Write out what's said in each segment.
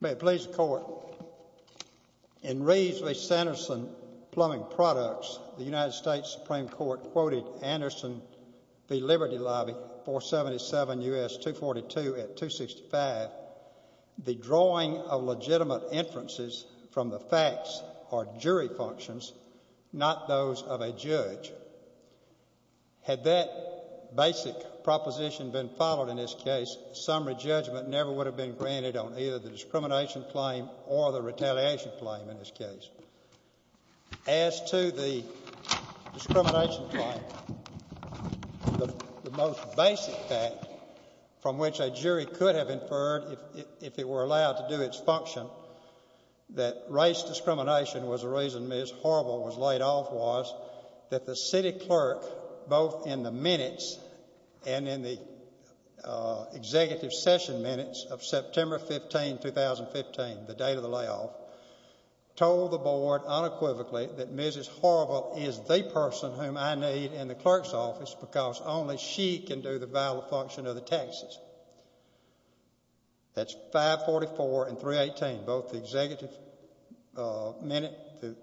May it please the Court, in Raisley-Sanderson Plumbing Products, the United States Plumbing States Supreme Court quoted Anderson v. Liberty Lobby 477 U.S. 242 at 265, the drawing of legitimate inferences from the facts are jury functions, not those of a judge. Had that basic proposition been followed in this case, summary judgment never would have been granted on either the discrimination claim or the retaliation claim in this case. As to the discrimination claim, the most basic fact from which a jury could have inferred if it were allowed to do its function that race discrimination was the reason Ms. Harville was laid off was that the city clerk, both in the minutes and in the executive session minutes of September 15, 2015, the date of the layoff, told the board unequivocally that Mrs. Harville is the person whom I need in the clerk's office because only she can do the vital function of the taxes. That's 544 and 318, both the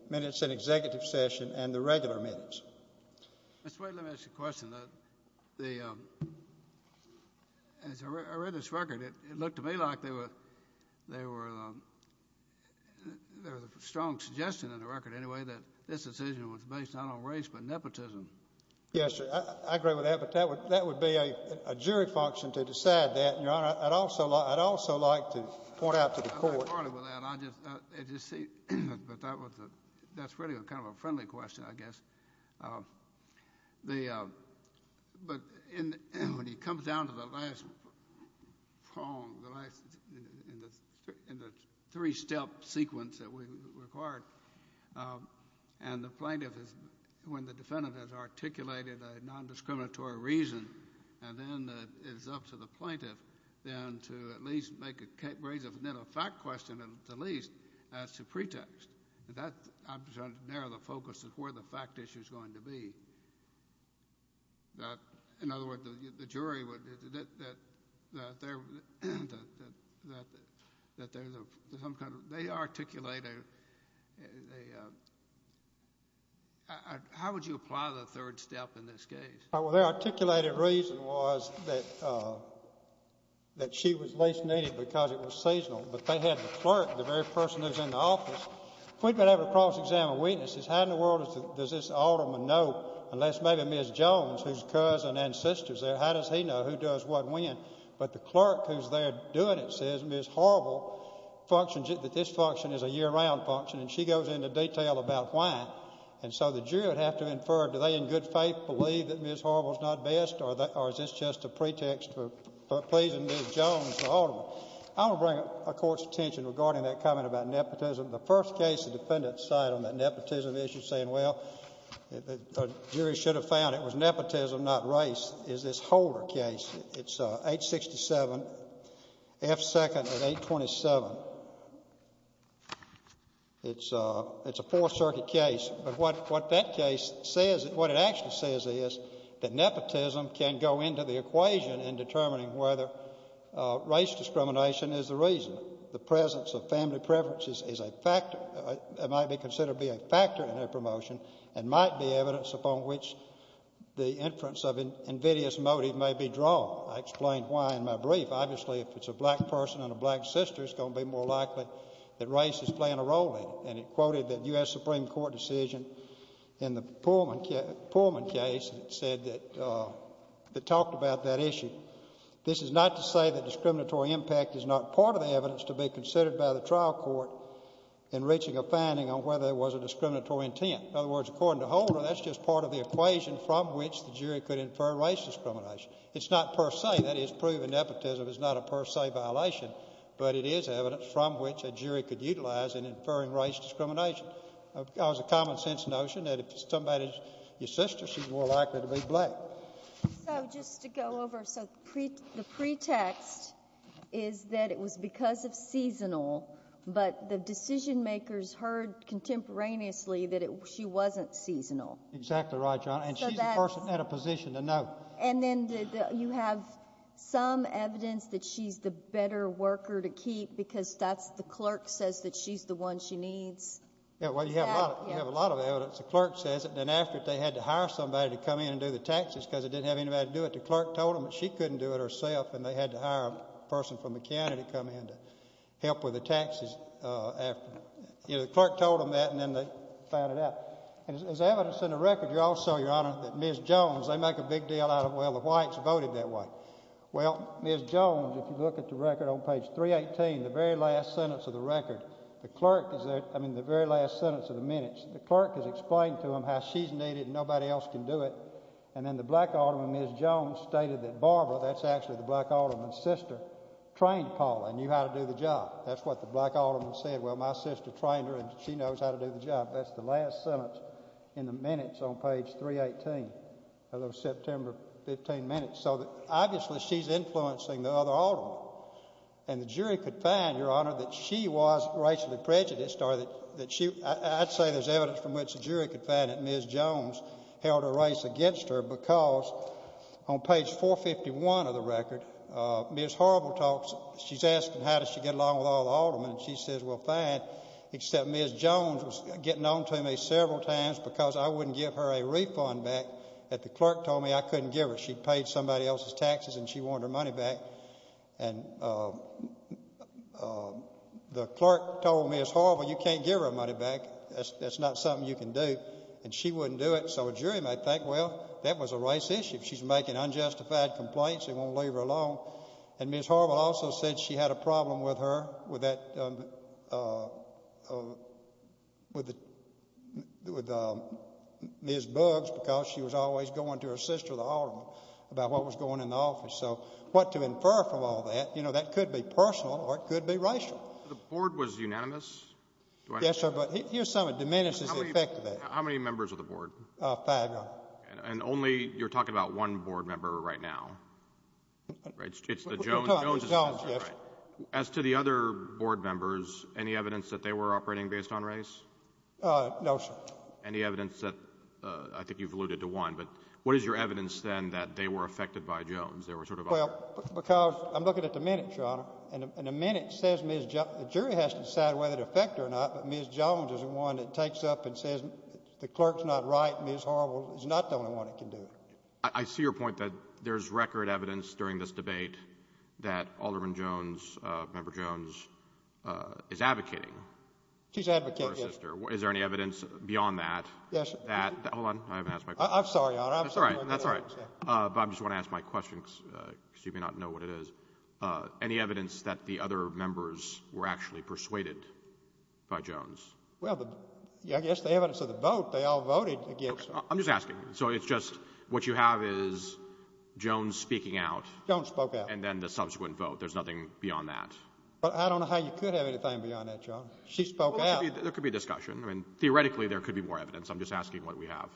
minutes in executive session and the regular minutes. Mr. Wade, let me ask you a question. As I read this record, it looked to me like there was a strong suggestion in the record anyway that this decision was based not on race but nepotism. Yes, sir. I agree with that, but that would be a jury function to decide that, Your Honor. I'd also like to point out to the court. That's really kind of a friendly question, I guess. But when it comes down to the last poem, the three-step sequence that we required, and the plaintiff, when the defendant has articulated a nondiscriminatory reason, and then it's up to the plaintiff then to at least make a case, raise a fact question at least as a pretext. I'm trying to narrow the focus of where the fact issue is going to be. In other words, the jury would, that there's some kind of, they articulate a, how would you apply the third step in this case? Well, their articulated reason was that she was least needed because it was seasonal. But they had the clerk, the very person who's in the office. If we'd been able to cross-examine weaknesses, how in the world does this alderman know, unless maybe Ms. Jones, whose cousin and sister is there, how does he know who does what when? But the clerk who's there doing it says, Ms. Horrible, that this function is a year-round function, and she goes into detail about why. And so the jury would have to infer, do they in good faith believe that Ms. Horrible's not best, or is this just a pretext for pleasing Ms. Jones, the alderman? I want to bring a court's attention regarding that comment about nepotism. The first case the defendants cite on that nepotism issue saying, well, the jury should have found it was nepotism, not race, is this Holder case. It's 867 F. 2nd and 827. It's a Fourth Circuit case. But what that case says, what it actually says is that nepotism can go into the equation in determining whether race discrimination is the reason. The presence of family preferences is a factor, might be considered to be a factor in their promotion, and might be evidence upon which the inference of invidious motive may be drawn. I explained why in my brief. Obviously, if it's a black person and a black sister, it's going to be more likely that Supreme Court decision in the Pullman case that said that, that talked about that issue. This is not to say that discriminatory impact is not part of the evidence to be considered by the trial court in reaching a finding on whether there was a discriminatory intent. In other words, according to Holder, that's just part of the equation from which the jury could infer race discrimination. It's not per se. That is, proven nepotism is not a per se violation, but it is evidence from which a jury could utilize in inferring race discrimination. It's a common sense notion that if it's somebody's sister, she's more likely to be black. So, just to go over. So, the pretext is that it was because of seasonal, but the decision makers heard contemporaneously that she wasn't seasonal. Exactly right, Your Honor. And she's the person at a position to know. And then you have some evidence that she's the better worker to keep because that's why the clerk says that she's the one she needs. Yeah, well, you have a lot of evidence. The clerk says it, and then after they had to hire somebody to come in and do the taxes because they didn't have anybody to do it. The clerk told them that she couldn't do it herself, and they had to hire a person from the county to come in to help with the taxes after. You know, the clerk told them that, and then they found it out. There's evidence in the record, Your Honor, that Ms. Jones, they make a big deal out of, well, the whites voted that way. Well, Ms. Jones, if you look at the record on page 318, the very last sentence of the record, the clerk is there, I mean, the very last sentence of the minutes, the clerk has explained to them how she's needed and nobody else can do it. And then the black alderman, Ms. Jones, stated that Barbara, that's actually the black alderman's sister, trained Paula and knew how to do the job. That's what the black alderman said, well, my sister trained her and she knows how to do the job. That's the last sentence in the minutes on page 318 of those September 15 minutes. So, obviously, she's influencing the other aldermen. And the jury could find, Your Honor, that she was racially prejudiced or that she, I'd say there's evidence from which the jury could find that Ms. Jones held a race against her because on page 451 of the record, Ms. Horrible talks, she's asking how did she get along with all the aldermen, and she says, well, fine, except Ms. Jones was getting on to me several times because I wouldn't give her a refund back that the clerk told me I couldn't give her. She'd paid somebody else's taxes and she wanted her money back. And the clerk told Ms. Horrible, you can't give her her money back. That's not something you can do. And she wouldn't do it. So a jury might think, well, that was a race issue. She's making unjustified complaints. They won't leave her alone. And Ms. Horrible also said she had a problem with her, with Ms. Buggs, because she was always going to her sister, the alderman, about what was going on in the office. So what to infer from all that, you know, that could be personal or it could be racial. The board was unanimous? Yes, sir, but here's something that diminishes the effect of that. Five, Your Honor. And only, you're talking about one board member right now, right? It's the Jones? The Jones, yes. As to the other board members, any evidence that they were operating based on race? No, sir. Any evidence that, I think you've alluded to one, but what is your evidence, then, that they were affected by Jones? They were sort of operating? Well, because I'm looking at the minutes, Your Honor, and the minute says Ms. Jones, the jury has to decide whether to affect her or not, but Ms. Jones is the one that takes up and says the clerk's not right, Ms. Harwell is not the only one that can do it. I see your point that there's record evidence during this debate that Alderman Jones, Member Jones, is advocating for her sister. She's advocating, yes. Is there any evidence beyond that? Yes, sir. Hold on, I haven't asked my question. I'm sorry, Your Honor. That's all right, that's all right. But I just want to ask my question, because you may not know what it is. Any evidence that the other members were actually persuaded by Jones? Well, I guess the evidence of the vote, they all voted against her. I'm just asking. So it's just, what you have is Jones speaking out. Jones spoke out. And then the subsequent vote. There's nothing beyond that. But I don't know how you could have anything beyond that, Your Honor. She spoke out. Well, there could be a discussion. I mean, theoretically, there could be more evidence. I'm just asking what we have.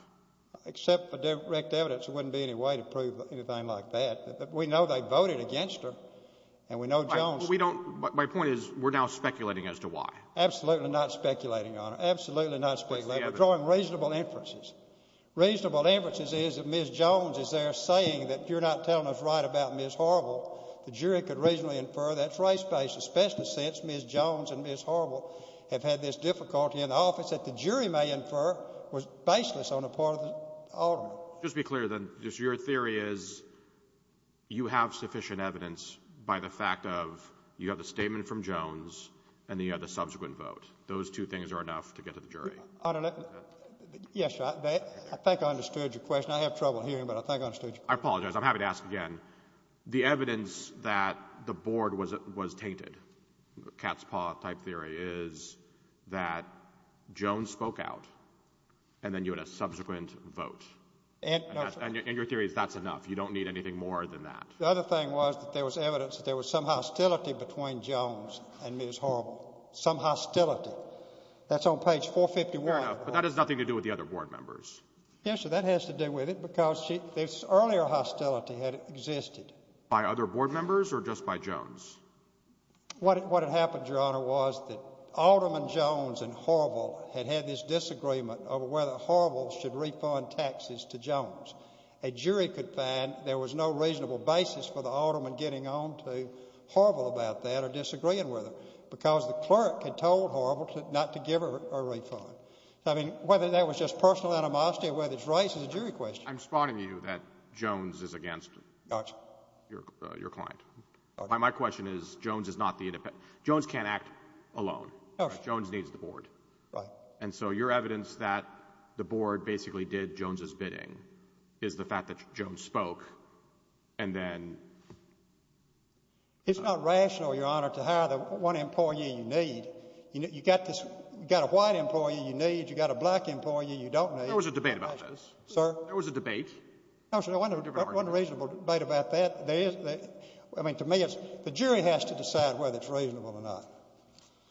Except for direct evidence, there wouldn't be any way to prove anything like that. We know they voted against her, and we know Jones. My point is, we're now speculating as to why. Absolutely not speculating, Your Honor. Absolutely not speculating. We're drawing reasonable inferences. Reasonable inferences is that Ms. Jones is there saying that you're not telling us right about Ms. Horrible. The jury could reasonably infer that's race-based, especially since Ms. Jones and Ms. Horrible have had this difficulty in the office that the jury may infer was baseless on the part of the Alderman. Just to be clear, then, your theory is you have sufficient evidence by the fact of you have the statement from Jones, and then you have the subsequent vote. Those two things are enough to get to the jury. Yes, Your Honor. I think I understood your question. I have trouble hearing, but I think I understood your question. I apologize. I'm happy to ask again. The evidence that the board was tainted, cat's paw type theory, is that Jones spoke out, and then you had a subsequent vote. And your theory is that's enough. You don't need anything more than that. The other thing was that there was evidence that there was some hostility between Jones and Ms. Horrible. Some hostility. That's on page 451. Fair enough, but that has nothing to do with the other board members. Yes, sir, that has to do with it because this earlier hostility had existed. By other board members or just by Jones? What had happened, Your Honor, was that Alderman Jones and Horrible had had this disagreement over whether Horrible should refund taxes to Jones. A jury could find there was no reasonable basis for the alderman getting on to Horrible about that or disagreeing with her because the clerk had told Horrible not to give her a refund. I mean, whether that was just personal animosity or whether it's right is a jury question. I'm spotting you that Jones is against your client. My question is Jones is not the independent. Jones can't act alone. Jones needs the board. Right. And so your evidence that the board basically did Jones' bidding is the fact that Jones spoke and then ---- It's not rational, Your Honor, to hire the one employee you need. You've got a white employee you need. You've got a black employee you don't need. There was a debate about this. Sir? There was a debate. There wasn't a reasonable debate about that. I mean, to me, the jury has to decide whether it's reasonable or not.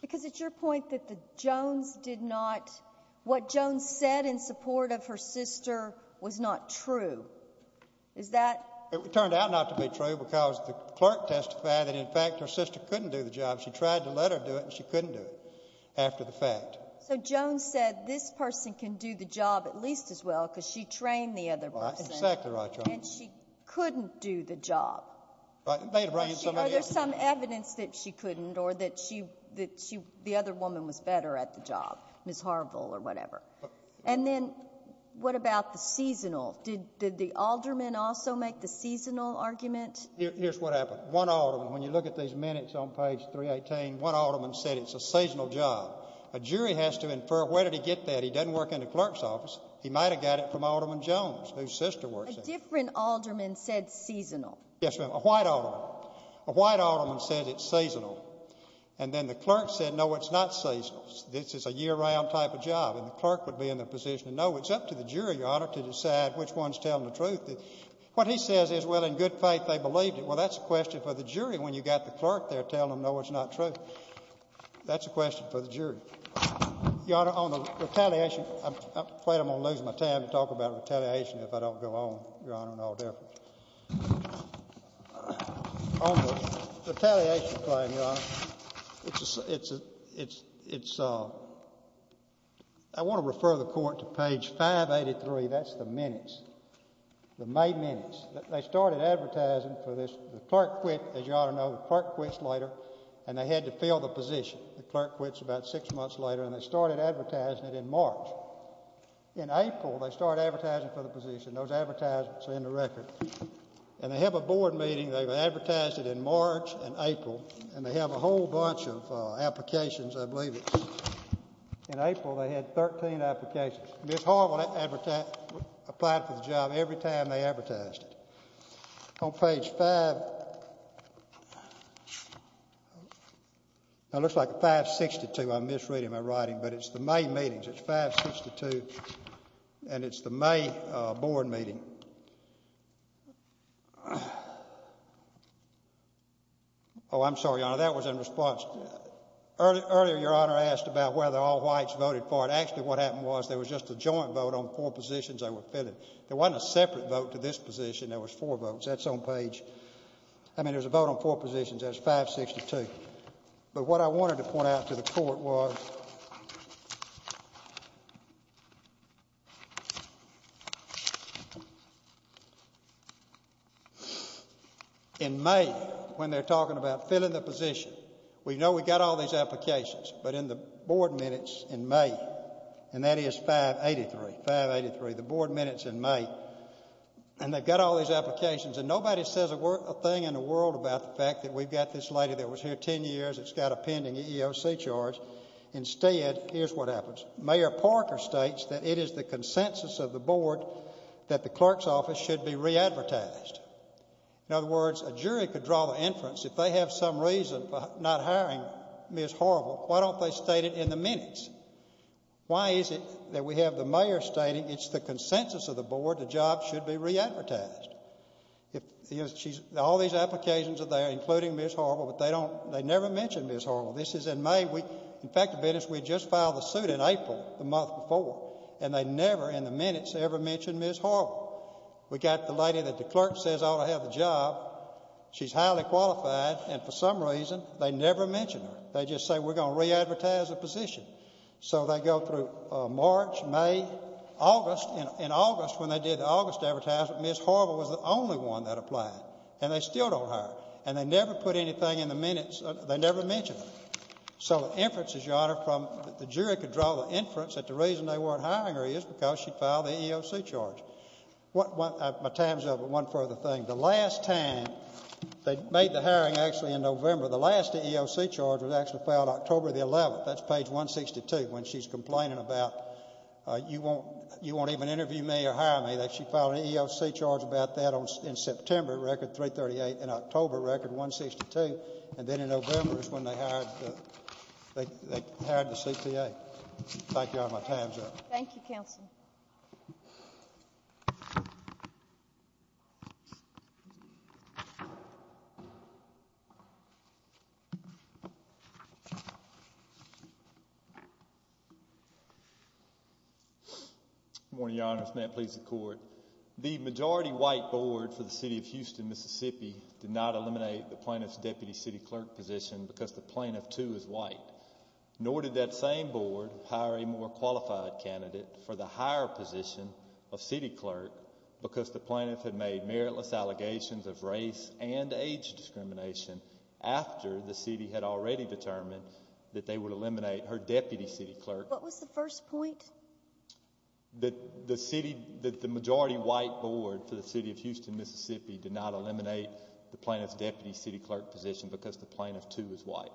Because it's your point that the Jones did not ---- what Jones said in support of her sister was not true. Is that ---- It turned out not to be true because the clerk testified that, in fact, her sister couldn't do the job. She tried to let her do it, and she couldn't do it after the fact. So Jones said this person can do the job at least as well because she trained the other person. That's exactly right, Your Honor. And she couldn't do the job. Are there some evidence that she couldn't or that the other woman was better at the job, Ms. Harville or whatever? And then what about the seasonal? Did the alderman also make the seasonal argument? Here's what happened. One alderman, when you look at these minutes on page 318, one alderman said it's a seasonal job. A jury has to infer where did he get that. He doesn't work in the clerk's office. He might have got it from Alderman Jones, whose sister works there. A different alderman said seasonal. Yes, ma'am. A white alderman. A white alderman said it's seasonal. And then the clerk said, no, it's not seasonal. This is a year-round type of job, and the clerk would be in the position to know. It's up to the jury, Your Honor, to decide which one's telling the truth. What he says is, well, in good faith they believed it. Well, that's a question for the jury when you've got the clerk there telling them, no, it's not true. That's a question for the jury. Your Honor, on the retaliation, I'm afraid I'm going to lose my time to talk about retaliation if I don't go on, Your Honor, in all deference. On the retaliation claim, Your Honor, it's a—I want to refer the court to page 583. That's the minutes, the May minutes. They started advertising for this. The clerk quit, as you ought to know. The clerk quits later, and they had to fill the position. The clerk quits about six months later, and they started advertising it in March. In April, they started advertising for the position. Those advertisements are in the record. And they have a board meeting. They've advertised it in March and April, and they have a whole bunch of applications, I believe. In April, they had 13 applications. Ms. Harwell applied for the job every time they advertised it. On page 5—it looks like 562. I'm misreading my writing, but it's the May meetings. It's 562, and it's the May board meeting. Oh, I'm sorry, Your Honor. That was in response. Earlier, Your Honor asked about whether all whites voted for it. Actually, what happened was there was just a joint vote on four positions they were filling. There wasn't a separate vote to this position. There was four votes. That's on page—I mean, there's a vote on four positions. That's 562. But what I wanted to point out to the court was in May, when they're talking about filling the position, we know we've got all these applications. But in the board minutes in May—and that is 583, the board minutes in May—and they've got all these applications, and nobody says a thing in the world about the fact that we've got this lady that was here 10 years that's got a pending EEOC charge. Instead, here's what happens. Mayor Parker states that it is the consensus of the board that the clerk's office should be re-advertised. In other words, a jury could draw the inference, if they have some reason for not hiring Ms. Harwell, why don't they state it in the minutes? Why is it that we have the mayor stating it's the consensus of the board the job should be re-advertised? All these applications are there, including Ms. Harwell, but they don't—they never mention Ms. Harwell. This is in May. In fact, we just filed the suit in April, the month before, and they never in the minutes ever mention Ms. Harwell. We've got the lady that the clerk says ought to have the job. She's highly qualified, and for some reason, they never mention her. They just say we're going to re-advertise the position. So they go through March, May, August. In August, when they did the August advertisement, Ms. Harwell was the only one that applied, and they still don't hire her, and they never put anything in the minutes. They never mention her. So the inference is, Your Honor, from—the jury could draw the inference that the reason they weren't hiring her is because she filed the EEOC charge. My time's up, but one further thing. The last time they made the hiring actually in November, the last EEOC charge was actually filed October the 11th. That's page 162, when she's complaining about you won't even interview me or hire me. She filed an EEOC charge about that in September, record 338, in October, record 162, and then in November is when they hired the CPA. Thank you, Your Honor. My time's up. Thank you, counsel. Good morning, Your Honors. May it please the Court. The majority white board for the city of Houston, Mississippi, did not eliminate the plaintiff's deputy city clerk position because the plaintiff, too, is white. Nor did that same board hire a more qualified candidate for the higher position of city clerk because the plaintiff had made meritless allegations of race and age discrimination after the city had already determined that they would eliminate her deputy city clerk. What was the first point? That the majority white board for the city of Houston, Mississippi, did not eliminate the plaintiff's deputy city clerk position because the plaintiff, too, is white.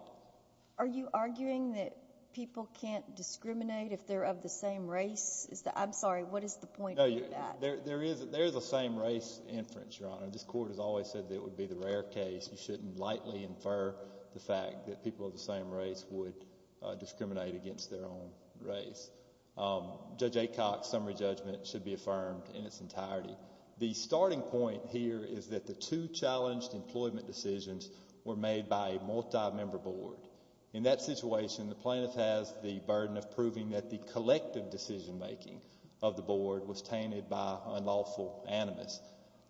Are you arguing that people can't discriminate if they're of the same race? I'm sorry, what is the point of that? There is a same race inference, Your Honor. This Court has always said that it would be the rare case. You shouldn't lightly infer the fact that people of the same race would discriminate against their own race. Judge Aycock's summary judgment should be affirmed in its entirety. The starting point here is that the two challenged employment decisions were made by a multi-member board. In that situation, the plaintiff has the burden of proving that the collective decision-making of the board was tainted by unlawful animus.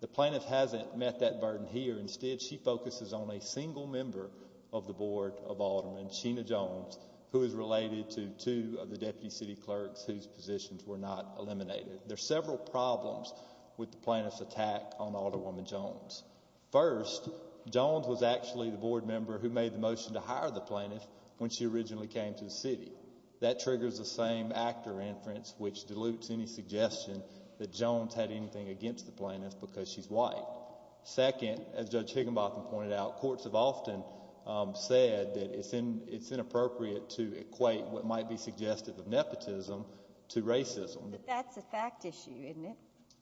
The plaintiff hasn't met that burden here. Instead, she focuses on a single member of the board of aldermen, Sheena Jones, who is related to two of the deputy city clerks whose positions were not eliminated. There are several problems with the plaintiff's attack on Alderwoman Jones. First, Jones was actually the board member who made the motion to hire the plaintiff when she originally came to the city. That triggers the same actor inference, which dilutes any suggestion that Jones had anything against the plaintiff because she's white. Second, as Judge Higginbotham pointed out, courts have often said that it's inappropriate to equate what might be suggestive of nepotism to racism. But that's a fact issue, isn't it?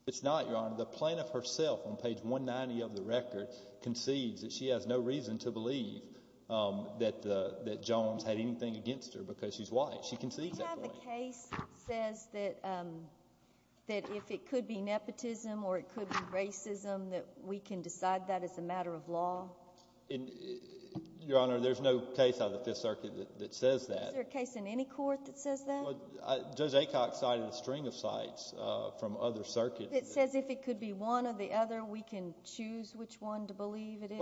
It's not, Your Honor. The plaintiff herself on page 190 of the record concedes that she has no reason to believe that Jones had anything against her because she's white. She concedes that point. Do you have a case that says that if it could be nepotism or it could be racism that we can decide that as a matter of law? Your Honor, there's no case out of the Fifth Circuit that says that. Is there a case in any court that says that? Judge Acock cited a string of sites from other circuits. It says if it could be one or the other, we can choose which one to believe it is?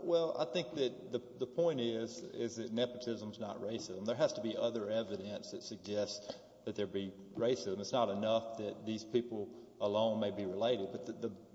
Well, I think that the point is that nepotism is not racism. There has to be other evidence that suggests that there be racism. It's not enough that these people alone may be related. But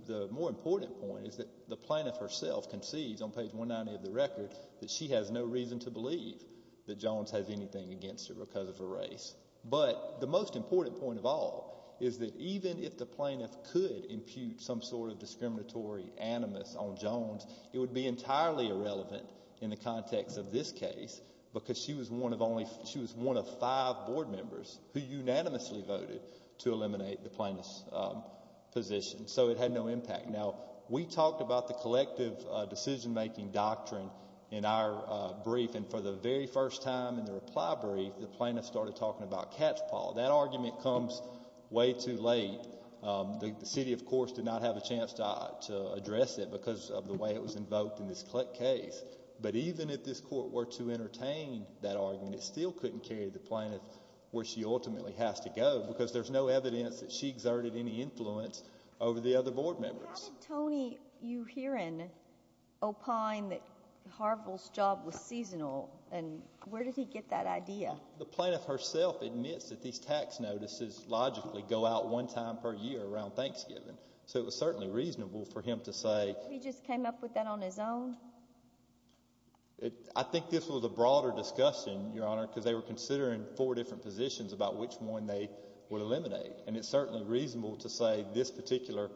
the more important point is that the plaintiff herself concedes on page 190 of the record that she has no reason to believe that Jones has anything against her because of her race. But the most important point of all is that even if the plaintiff could impute some sort of discriminatory animus on Jones, it would be entirely irrelevant in the context of this case because she was one of five board members who unanimously voted to eliminate the plaintiff's position. So it had no impact. Now, we talked about the collective decision-making doctrine in our brief, and for the very first time in the reply brief, the plaintiff started talking about catchpaw. That argument comes way too late. The city, of course, did not have a chance to address it because of the way it was invoked in this case. But even if this court were to entertain that argument, it still couldn't carry the plaintiff where she ultimately has to go because there's no evidence that she exerted any influence over the other board members. How did Tony Uherin opine that Harville's job was seasonal, and where did he get that idea? The plaintiff herself admits that these tax notices logically go out one time per year around Thanksgiving. So it was certainly reasonable for him to say— Or maybe he just came up with that on his own. I think this was a broader discussion, Your Honor, because they were considering four different positions about which one they would eliminate. And it's certainly reasonable to say this particular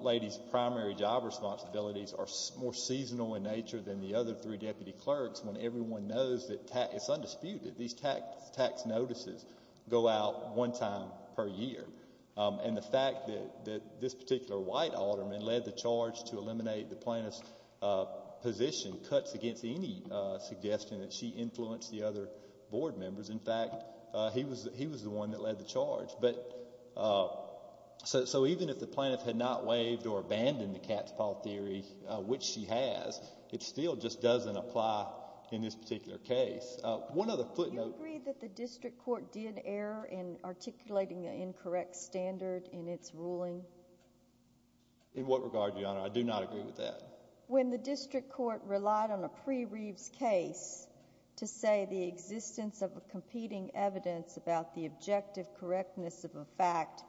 lady's primary job responsibilities are more seasonal in nature than the other three deputy clerks when everyone knows that it's undisputed. These tax notices go out one time per year. And the fact that this particular white alderman led the charge to eliminate the plaintiff's position cuts against any suggestion that she influenced the other board members. In fact, he was the one that led the charge. So even if the plaintiff had not waived or abandoned the cat's paw theory, which she has, it still just doesn't apply in this particular case. Do you agree that the district court did err in articulating an incorrect standard in its ruling? In what regard, Your Honor? I do not agree with that. When the district court relied on a pre-Reeves case to say the existence of competing evidence about the objective correctness of a fact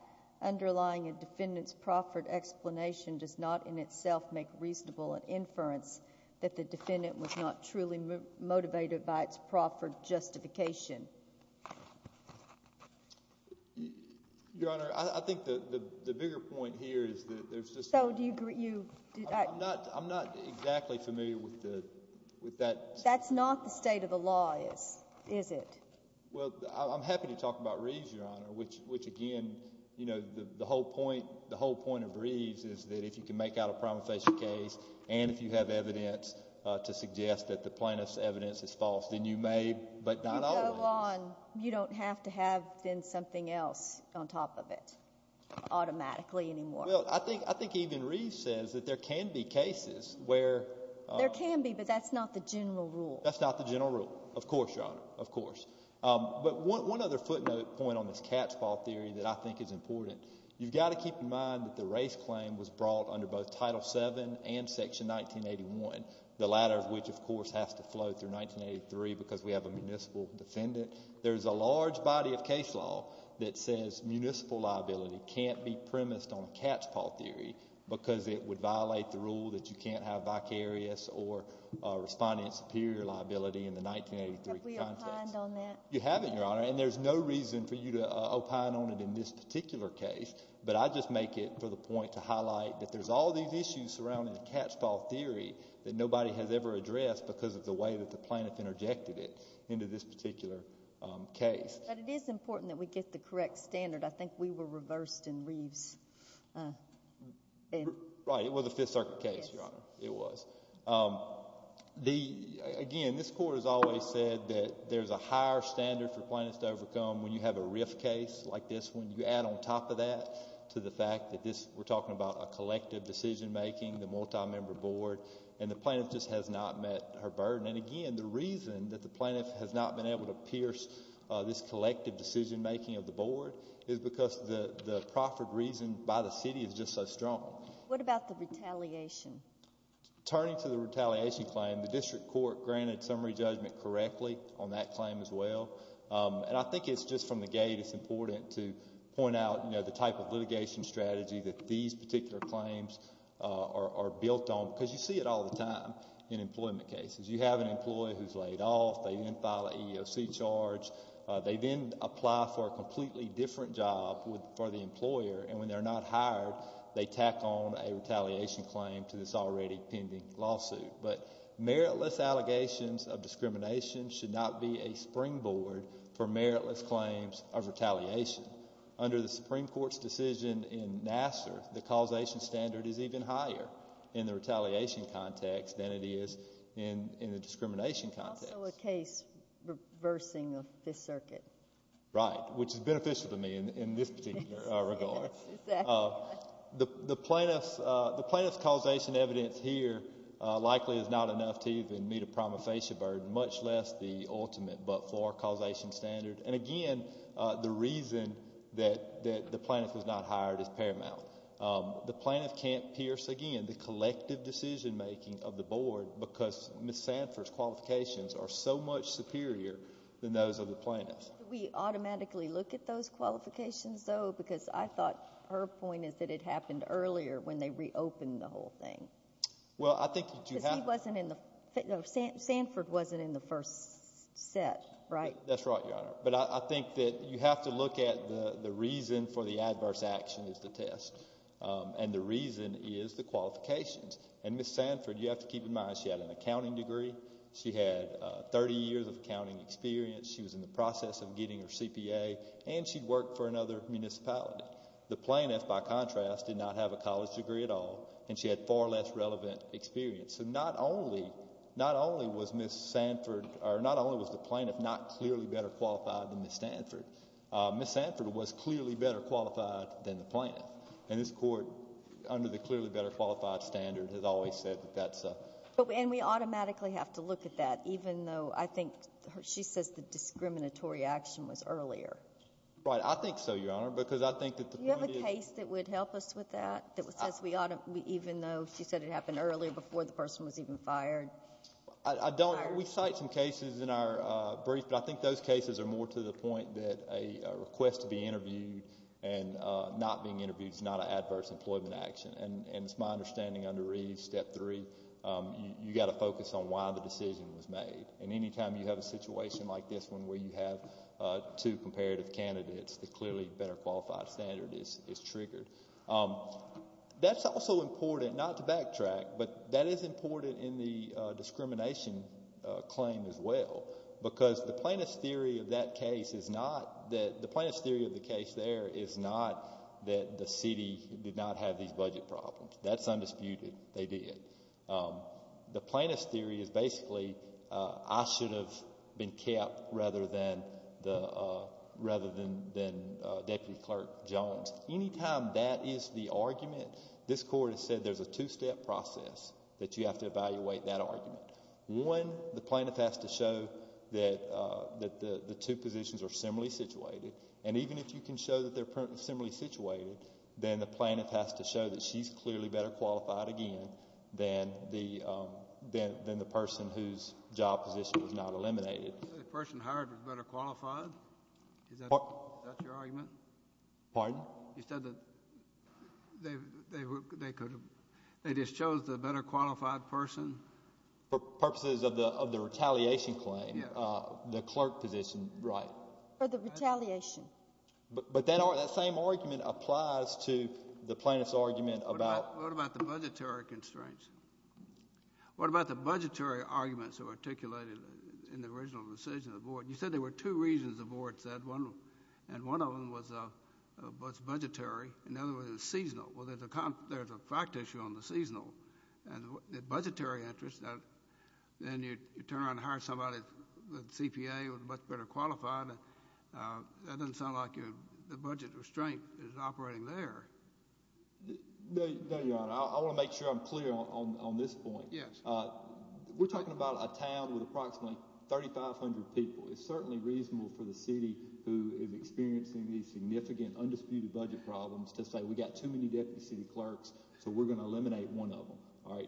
underlying a defendant's proffered explanation does not in itself make reasonable an inference that the defendant was not truly motivated by its proffered justification. Your Honor, I think the bigger point here is that there's just— So do you— I'm not exactly familiar with that— That's not the state of the law, is it? Well, I'm happy to talk about Reeves, Your Honor, which, again, the whole point of Reeves is that if you can make out a prima facie case and if you have evidence to suggest that the plaintiff's evidence is false, then you may, but not always— You go on. You don't have to have then something else on top of it automatically anymore. Well, I think even Reeves says that there can be cases where— There can be, but that's not the general rule. That's not the general rule, of course, Your Honor, of course. But one other footnote point on this cat's paw theory that I think is important. You've got to keep in mind that the race claim was brought under both Title VII and Section 1981, the latter of which, of course, has to flow through 1983 because we have a municipal defendant. There's a large body of case law that says municipal liability can't be premised on a cat's paw theory because it would violate the rule that you can't have vicarious or respondent superior liability in the 1983 context. Have we opined on that? You haven't, Your Honor, and there's no reason for you to opine on it in this particular case. But I just make it for the point to highlight that there's all these issues surrounding the cat's paw theory that nobody has ever addressed because of the way that the plaintiff interjected it into this particular case. But it is important that we get the correct standard. I think we were reversed in Reeves. Right. It was a Fifth Circuit case, Your Honor. It was. Again, this court has always said that there's a higher standard for plaintiffs to overcome when you have a rift case like this one. You add on top of that to the fact that we're talking about a collective decision-making, the multi-member board, and the plaintiff just has not met her burden. And, again, the reason that the plaintiff has not been able to pierce this collective decision-making of the board is because the proffered reason by the city is just so strong. What about the retaliation? Turning to the retaliation claim, the district court granted summary judgment correctly on that claim as well. And I think it's just from the gate it's important to point out the type of litigation strategy that these particular claims are built on because you see it all the time in employment cases. You have an employee who's laid off. They didn't file an EEOC charge. They then apply for a completely different job for the employer, and when they're not hired, they tack on a retaliation claim to this already pending lawsuit. But meritless allegations of discrimination should not be a springboard for meritless claims of retaliation. Under the Supreme Court's decision in Nassar, the causation standard is even higher in the retaliation context than it is in the discrimination context. It's also a case reversing the Fifth Circuit. Right, which is beneficial to me in this particular regard. Yes, exactly. The plaintiff's causation evidence here likely is not enough to even meet a prima facie burden, much less the ultimate but-for causation standard. And, again, the reason that the plaintiff is not hired is paramount. The plaintiff can't pierce, again, the collective decision-making of the board because Ms. Sanford's qualifications are so much superior than those of the plaintiff's. Do we automatically look at those qualifications, though? Because I thought her point is that it happened earlier when they reopened the whole thing. Well, I think that you have— Because he wasn't in the—Sanford wasn't in the first set, right? That's right, Your Honor. But I think that you have to look at the reason for the adverse action is the test, and the reason is the qualifications. And Ms. Sanford, you have to keep in mind she had an accounting degree. She had 30 years of accounting experience. She was in the process of getting her CPA, and she worked for another municipality. The plaintiff, by contrast, did not have a college degree at all, and she had far less relevant experience. So not only was Ms. Sanford—or not only was the plaintiff not clearly better qualified than Ms. Sanford, Ms. Sanford was clearly better qualified than the plaintiff. And this Court, under the clearly better qualified standard, has always said that that's a— And we automatically have to look at that, even though I think—she says the discriminatory action was earlier. Right. I think so, Your Honor, because I think that the point is— I don't—we cite some cases in our brief, but I think those cases are more to the point that a request to be interviewed and not being interviewed is not an adverse employment action. And it's my understanding under Reeves, Step 3, you've got to focus on why the decision was made. And any time you have a situation like this one where you have two comparative candidates, the clearly better qualified standard is triggered. That's also important, not to backtrack, but that is important in the discrimination claim as well, because the plaintiff's theory of that case is not that—the plaintiff's theory of the case there is not that the city did not have these budget problems. That's undisputed. They did. The plaintiff's theory is basically I should have been kept rather than Deputy Clerk Jones. Any time that is the argument, this Court has said there's a two-step process that you have to evaluate that argument. One, the plaintiff has to show that the two positions are similarly situated. And even if you can show that they're similarly situated, then the plaintiff has to show that she's clearly better qualified again than the person whose job position was not eliminated. The person hired was better qualified? Is that your argument? Pardon? You said that they just chose the better qualified person? For purposes of the retaliation claim, the clerk position, right. For the retaliation. But that same argument applies to the plaintiff's argument about— What about the budgetary constraints? What about the budgetary arguments that were articulated in the original decision of the Board? You said there were two reasons the Board said, and one of them was budgetary, and the other was seasonal. Well, there's a fact issue on the seasonal. And the budgetary interest, then you turn around and hire somebody with a CPA who's much better qualified. That doesn't sound like the budget restraint is operating there. No, Your Honor. I want to make sure I'm clear on this point. We're talking about a town with approximately 3,500 people. It's certainly reasonable for the city who is experiencing these significant, undisputed budget problems to say, We've got too many deputy city clerks, so we're going to eliminate one of them.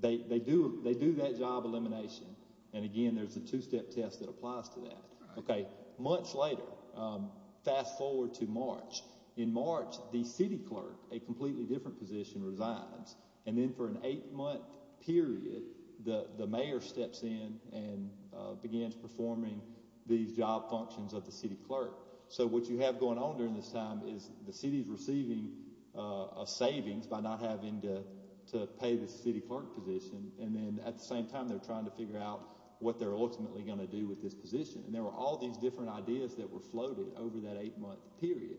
They do that job elimination. And again, there's a two-step test that applies to that. OK, months later, fast forward to March. In March, the city clerk, a completely different position, resigns. And then for an eight-month period, the mayor steps in and begins performing these job functions of the city clerk. So what you have going on during this time is the city is receiving a savings by not having to pay the city clerk position. And then at the same time, they're trying to figure out what they're ultimately going to do with this position. And there were all these different ideas that were floated over that eight-month period.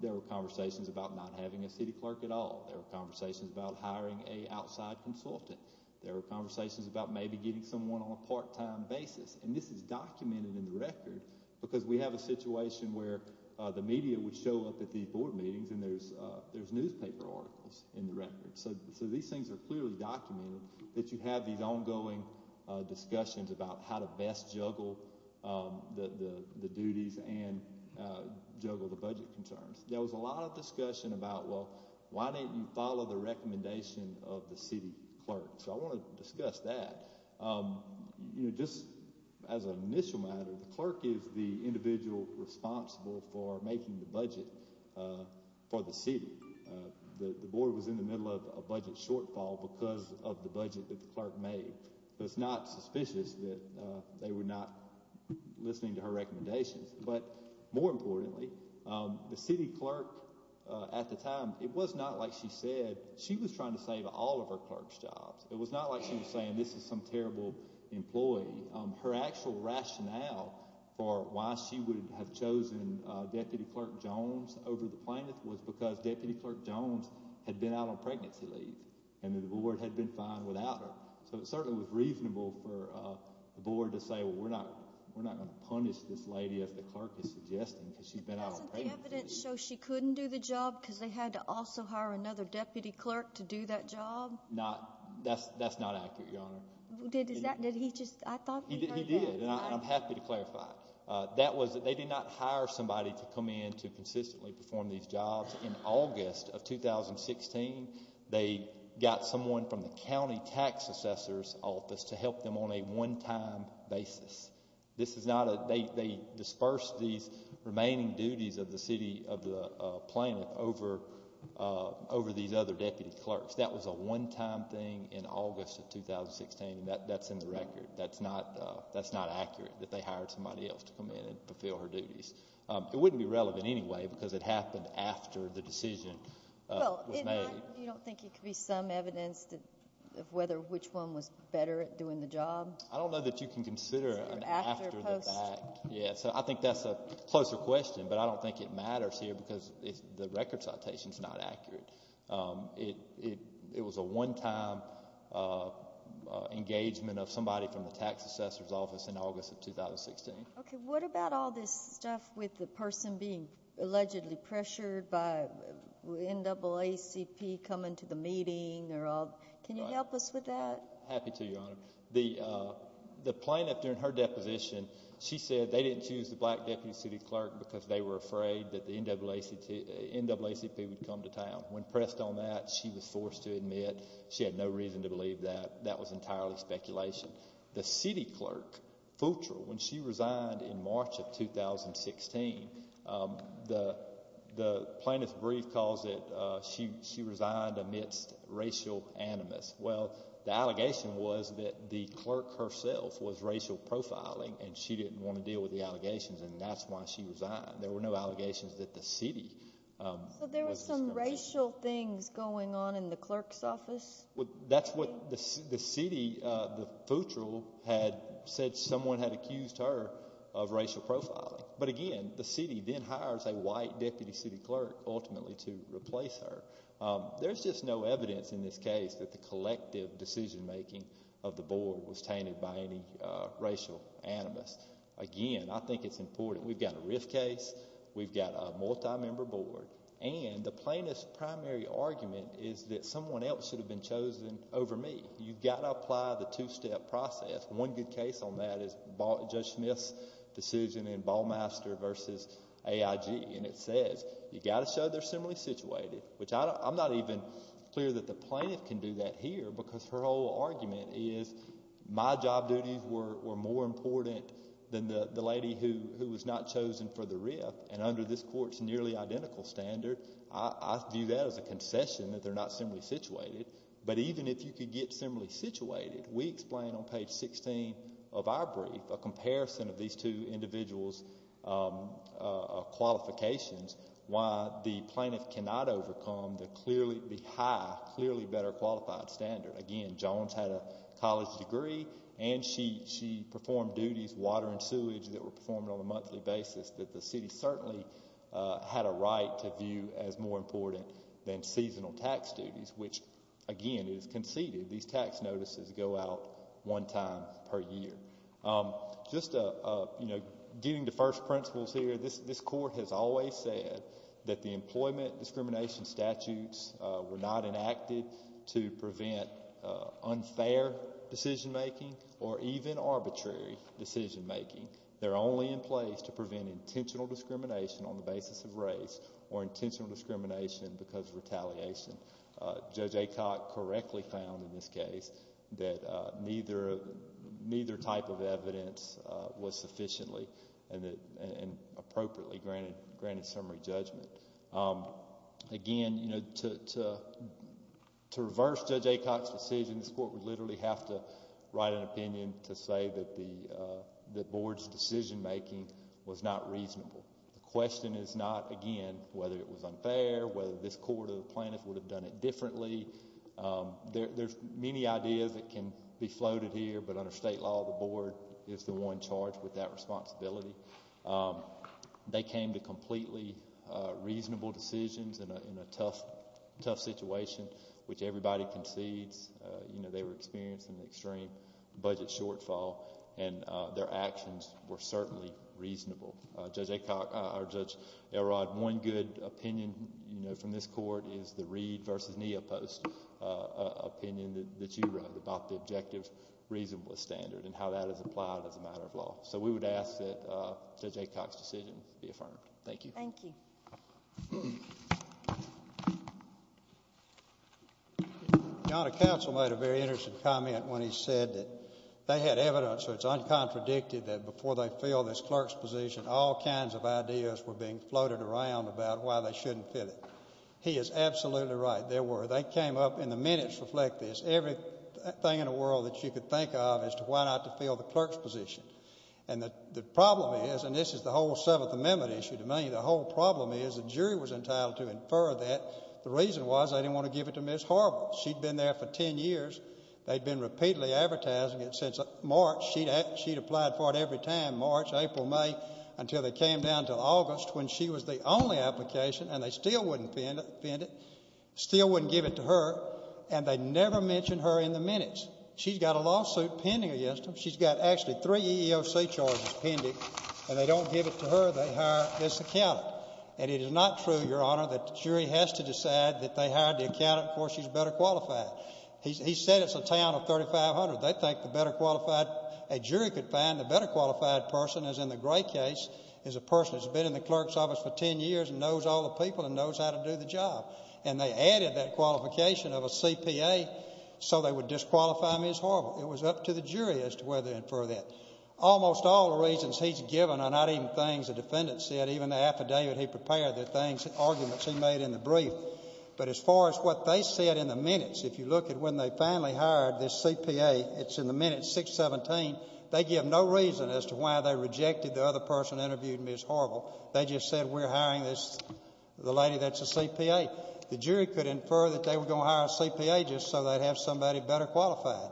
There were conversations about not having a city clerk at all. There were conversations about hiring an outside consultant. There were conversations about maybe getting someone on a part-time basis. And this is documented in the record because we have a situation where the media would show up at these board meetings, and there's newspaper articles in the records. So these things are clearly documented that you have these ongoing discussions about how to best juggle the duties and juggle the budget concerns. There was a lot of discussion about, well, why didn't you follow the recommendation of the city clerk? So I want to discuss that. You know, just as an initial matter, the clerk is the individual responsible for making the budget for the city. The board was in the middle of a budget shortfall because of the budget that the clerk made. So it's not suspicious that they were not listening to her recommendations. But more importantly, the city clerk at the time, it was not like she said. She was trying to save all of her clerk's jobs. It was not like she was saying this is some terrible employee. Her actual rationale for why she would have chosen Deputy Clerk Jones over the plaintiff was because Deputy Clerk Jones had been out on pregnancy leave and the board had been fine without her. So it certainly was reasonable for the board to say, well, we're not going to punish this lady as the clerk is suggesting because she's been out on pregnancy leave. Doesn't the evidence show she couldn't do the job because they had to also hire another deputy clerk to do that job? That's not accurate, Your Honor. I thought you heard that. He did, and I'm happy to clarify. They did not hire somebody to come in to consistently perform these jobs. In August of 2016, they got someone from the county tax assessor's office to help them on a one-time basis. They dispersed these remaining duties of the city of the plaintiff over these other deputy clerks. That was a one-time thing in August of 2016, and that's in the record. That's not accurate that they hired somebody else to come in and fulfill her duties. It wouldn't be relevant anyway because it happened after the decision was made. You don't think it could be some evidence of whether which one was better at doing the job? I don't know that you can consider an after the fact. So I think that's a closer question, but I don't think it matters here because the record citation is not accurate. It was a one-time engagement of somebody from the tax assessor's office in August of 2016. Okay. What about all this stuff with the person being allegedly pressured by NAACP coming to the meeting? Can you help us with that? Happy to, Your Honor. The plaintiff, during her deposition, she said they didn't choose the black deputy city clerk because they were afraid that the NAACP would come to town. When pressed on that, she was forced to admit she had no reason to believe that. That was entirely speculation. The city clerk, Futrell, when she resigned in March of 2016, the plaintiff's brief calls it she resigned amidst racial animus. Well, the allegation was that the clerk herself was racial profiling, and she didn't want to deal with the allegations, and that's why she resigned. There were no allegations that the city was responsible. So there were some racial things going on in the clerk's office? That's what the city, Futrell, had said someone had accused her of racial profiling. But, again, the city then hires a white deputy city clerk ultimately to replace her. There's just no evidence in this case that the collective decision-making of the board was tainted by any racial animus. Again, I think it's important. We've got a RIF case. We've got a multi-member board. And the plaintiff's primary argument is that someone else should have been chosen over me. You've got to apply the two-step process. One good case on that is Judge Smith's decision in Ballmaster v. AIG, and it says you've got to show they're similarly situated, which I'm not even clear that the plaintiff can do that here because her whole argument is my job duties were more important than the lady who was not chosen for the RIF, and under this court's nearly identical standard, I view that as a concession that they're not similarly situated. But even if you could get similarly situated, we explain on page 16 of our brief, a comparison of these two individuals' qualifications, why the plaintiff cannot overcome the high, clearly better-qualified standard. Again, Jones had a college degree, and she performed duties, water and sewage, that were performed on a monthly basis that the city certainly had a right to view as more important than seasonal tax duties, which, again, is conceded. These tax notices go out one time per year. Just getting to first principles here, this court has always said that the employment discrimination statutes were not enacted to prevent unfair decision-making or even arbitrary decision-making. They're only in place to prevent intentional discrimination on the basis of race or intentional discrimination because of retaliation. Judge Acock correctly found in this case that neither type of evidence was sufficiently and appropriately granted summary judgment. Again, to reverse Judge Acock's decision, this court would literally have to write an opinion to say that the board's decision-making was not reasonable. The question is not, again, whether it was unfair, whether this court or the plaintiff would have done it differently. There's many ideas that can be floated here, but under state law, the board is the one charged with that responsibility. They came to completely reasonable decisions in a tough situation, which everybody concedes. They were experiencing an extreme budget shortfall, and their actions were certainly reasonable. Judge Acock or Judge Elrod, one good opinion from this court is the Reed v. Neopost opinion that you wrote about the objective reasonable standard and how that is applied as a matter of law. So we would ask that Judge Acock's decision be affirmed. Thank you. Thank you. Your Honor, counsel made a very interesting comment when he said that they had evidence, so it's uncontradicted, that before they filled this clerk's position, all kinds of ideas were being floated around about why they shouldn't fill it. He is absolutely right. There were. They came up in the minutes to reflect this. Everything in the world that you could think of as to why not to fill the clerk's position. And the problem is, and this is the whole Seventh Amendment issue to me, the whole problem is the jury was entitled to infer that. The reason was they didn't want to give it to Ms. Harbert. She'd been there for 10 years. They'd been repeatedly advertising it since March. She'd applied for it every time, March, April, May, until they came down to August when she was the only application, and they still wouldn't fend it, still wouldn't give it to her, and they never mentioned her in the minutes. She's got a lawsuit pending against her. She's got actually three EEOC charges pending, and they don't give it to her. They hire this accountant, and it is not true, Your Honor, that the jury has to decide that they hired the accountant before she's better qualified. He said it's a town of 3,500. They think the better qualified a jury could find, the better qualified person, as in the Gray case, is a person who's been in the clerk's office for 10 years and knows all the people and knows how to do the job, and they added that qualification of a CPA so they would disqualify Ms. Harbert. It was up to the jury as to whether to infer that. Almost all the reasons he's given are not even things the defendant said, even the affidavit he prepared, the things, arguments he made in the brief, but as far as what they said in the minutes, if you look at when they finally hired this CPA, it's in the minutes, 617. They give no reason as to why they rejected the other person interviewed, Ms. Harbert. They just said we're hiring the lady that's a CPA. The jury could infer that they were going to hire a CPA just so they'd have somebody better qualified.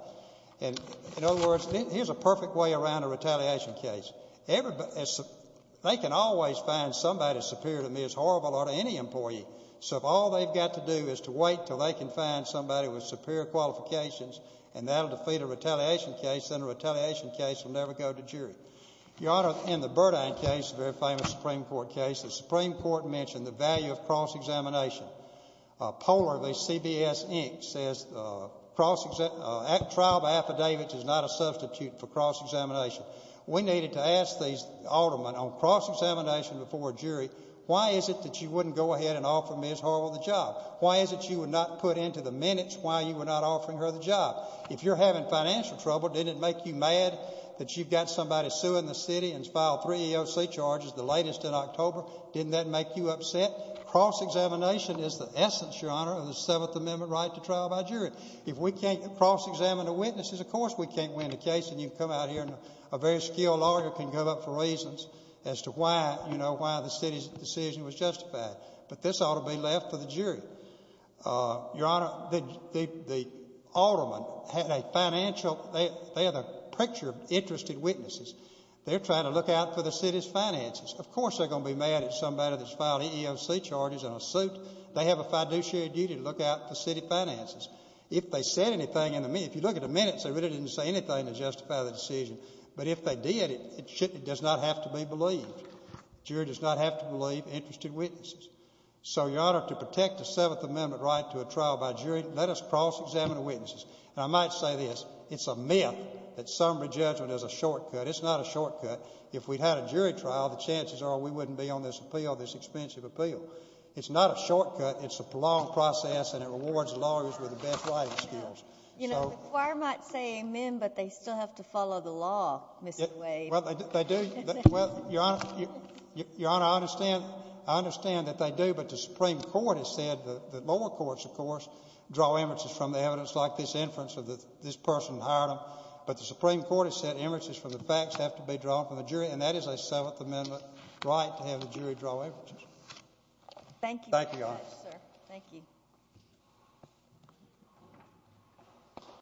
In other words, here's a perfect way around a retaliation case. They can always find somebody superior to me as horrible or to any employee, so if all they've got to do is to wait until they can find somebody with superior qualifications and that'll defeat a retaliation case, then a retaliation case will never go to jury. Your Honor, in the Burdine case, a very famous Supreme Court case, the Supreme Court mentioned the value of cross-examination. A poller, CBS Inc., says trial of affidavits is not a substitute for cross-examination. We needed to ask these aldermen on cross-examination before a jury, why is it that you wouldn't go ahead and offer Ms. Harbert the job? Why is it you would not put into the minutes why you were not offering her the job? If you're having financial trouble, didn't it make you mad that you've got somebody suing the city and filed three EOC charges, the latest in October? Didn't that make you upset? Cross-examination is the essence, Your Honor, of the Seventh Amendment right to trial by jury. If we can't cross-examine the witnesses, of course we can't win the case, and you come out here and a very skilled lawyer can come up for reasons as to why, you know, why the city's decision was justified. But this ought to be left to the jury. Your Honor, the aldermen had a financial—they had a picture of interested witnesses. They're trying to look out for the city's finances. Of course they're going to be mad at somebody that's filed EEOC charges in a suit. They have a fiduciary duty to look out for city finances. If they said anything in the—if you look at the minutes, they really didn't say anything to justify the decision. But if they did, it does not have to be believed. Jury does not have to believe interested witnesses. So, Your Honor, to protect the Seventh Amendment right to a trial by jury, let us cross-examine the witnesses. And I might say this, it's a myth that summary judgment is a shortcut. It's not a shortcut. If we'd had a jury trial, the chances are we wouldn't be on this appeal, this expensive appeal. It's not a shortcut. It's a long process, and it rewards lawyers with the best writing skills. So— You know, the choir might say amen, but they still have to follow the law, Mr. Wade. Well, they do. Well, Your Honor—Your Honor, I understand. I understand that they do. But the Supreme Court has said—the lower courts, of course, draw inferences from the evidence, like this inference of this person hired them. But the Supreme Court has said inferences from the facts have to be drawn from the jury, and that is a Seventh Amendment right to have the jury draw inferences. Thank you very much, sir. Thank you, Your Honor. Thank you.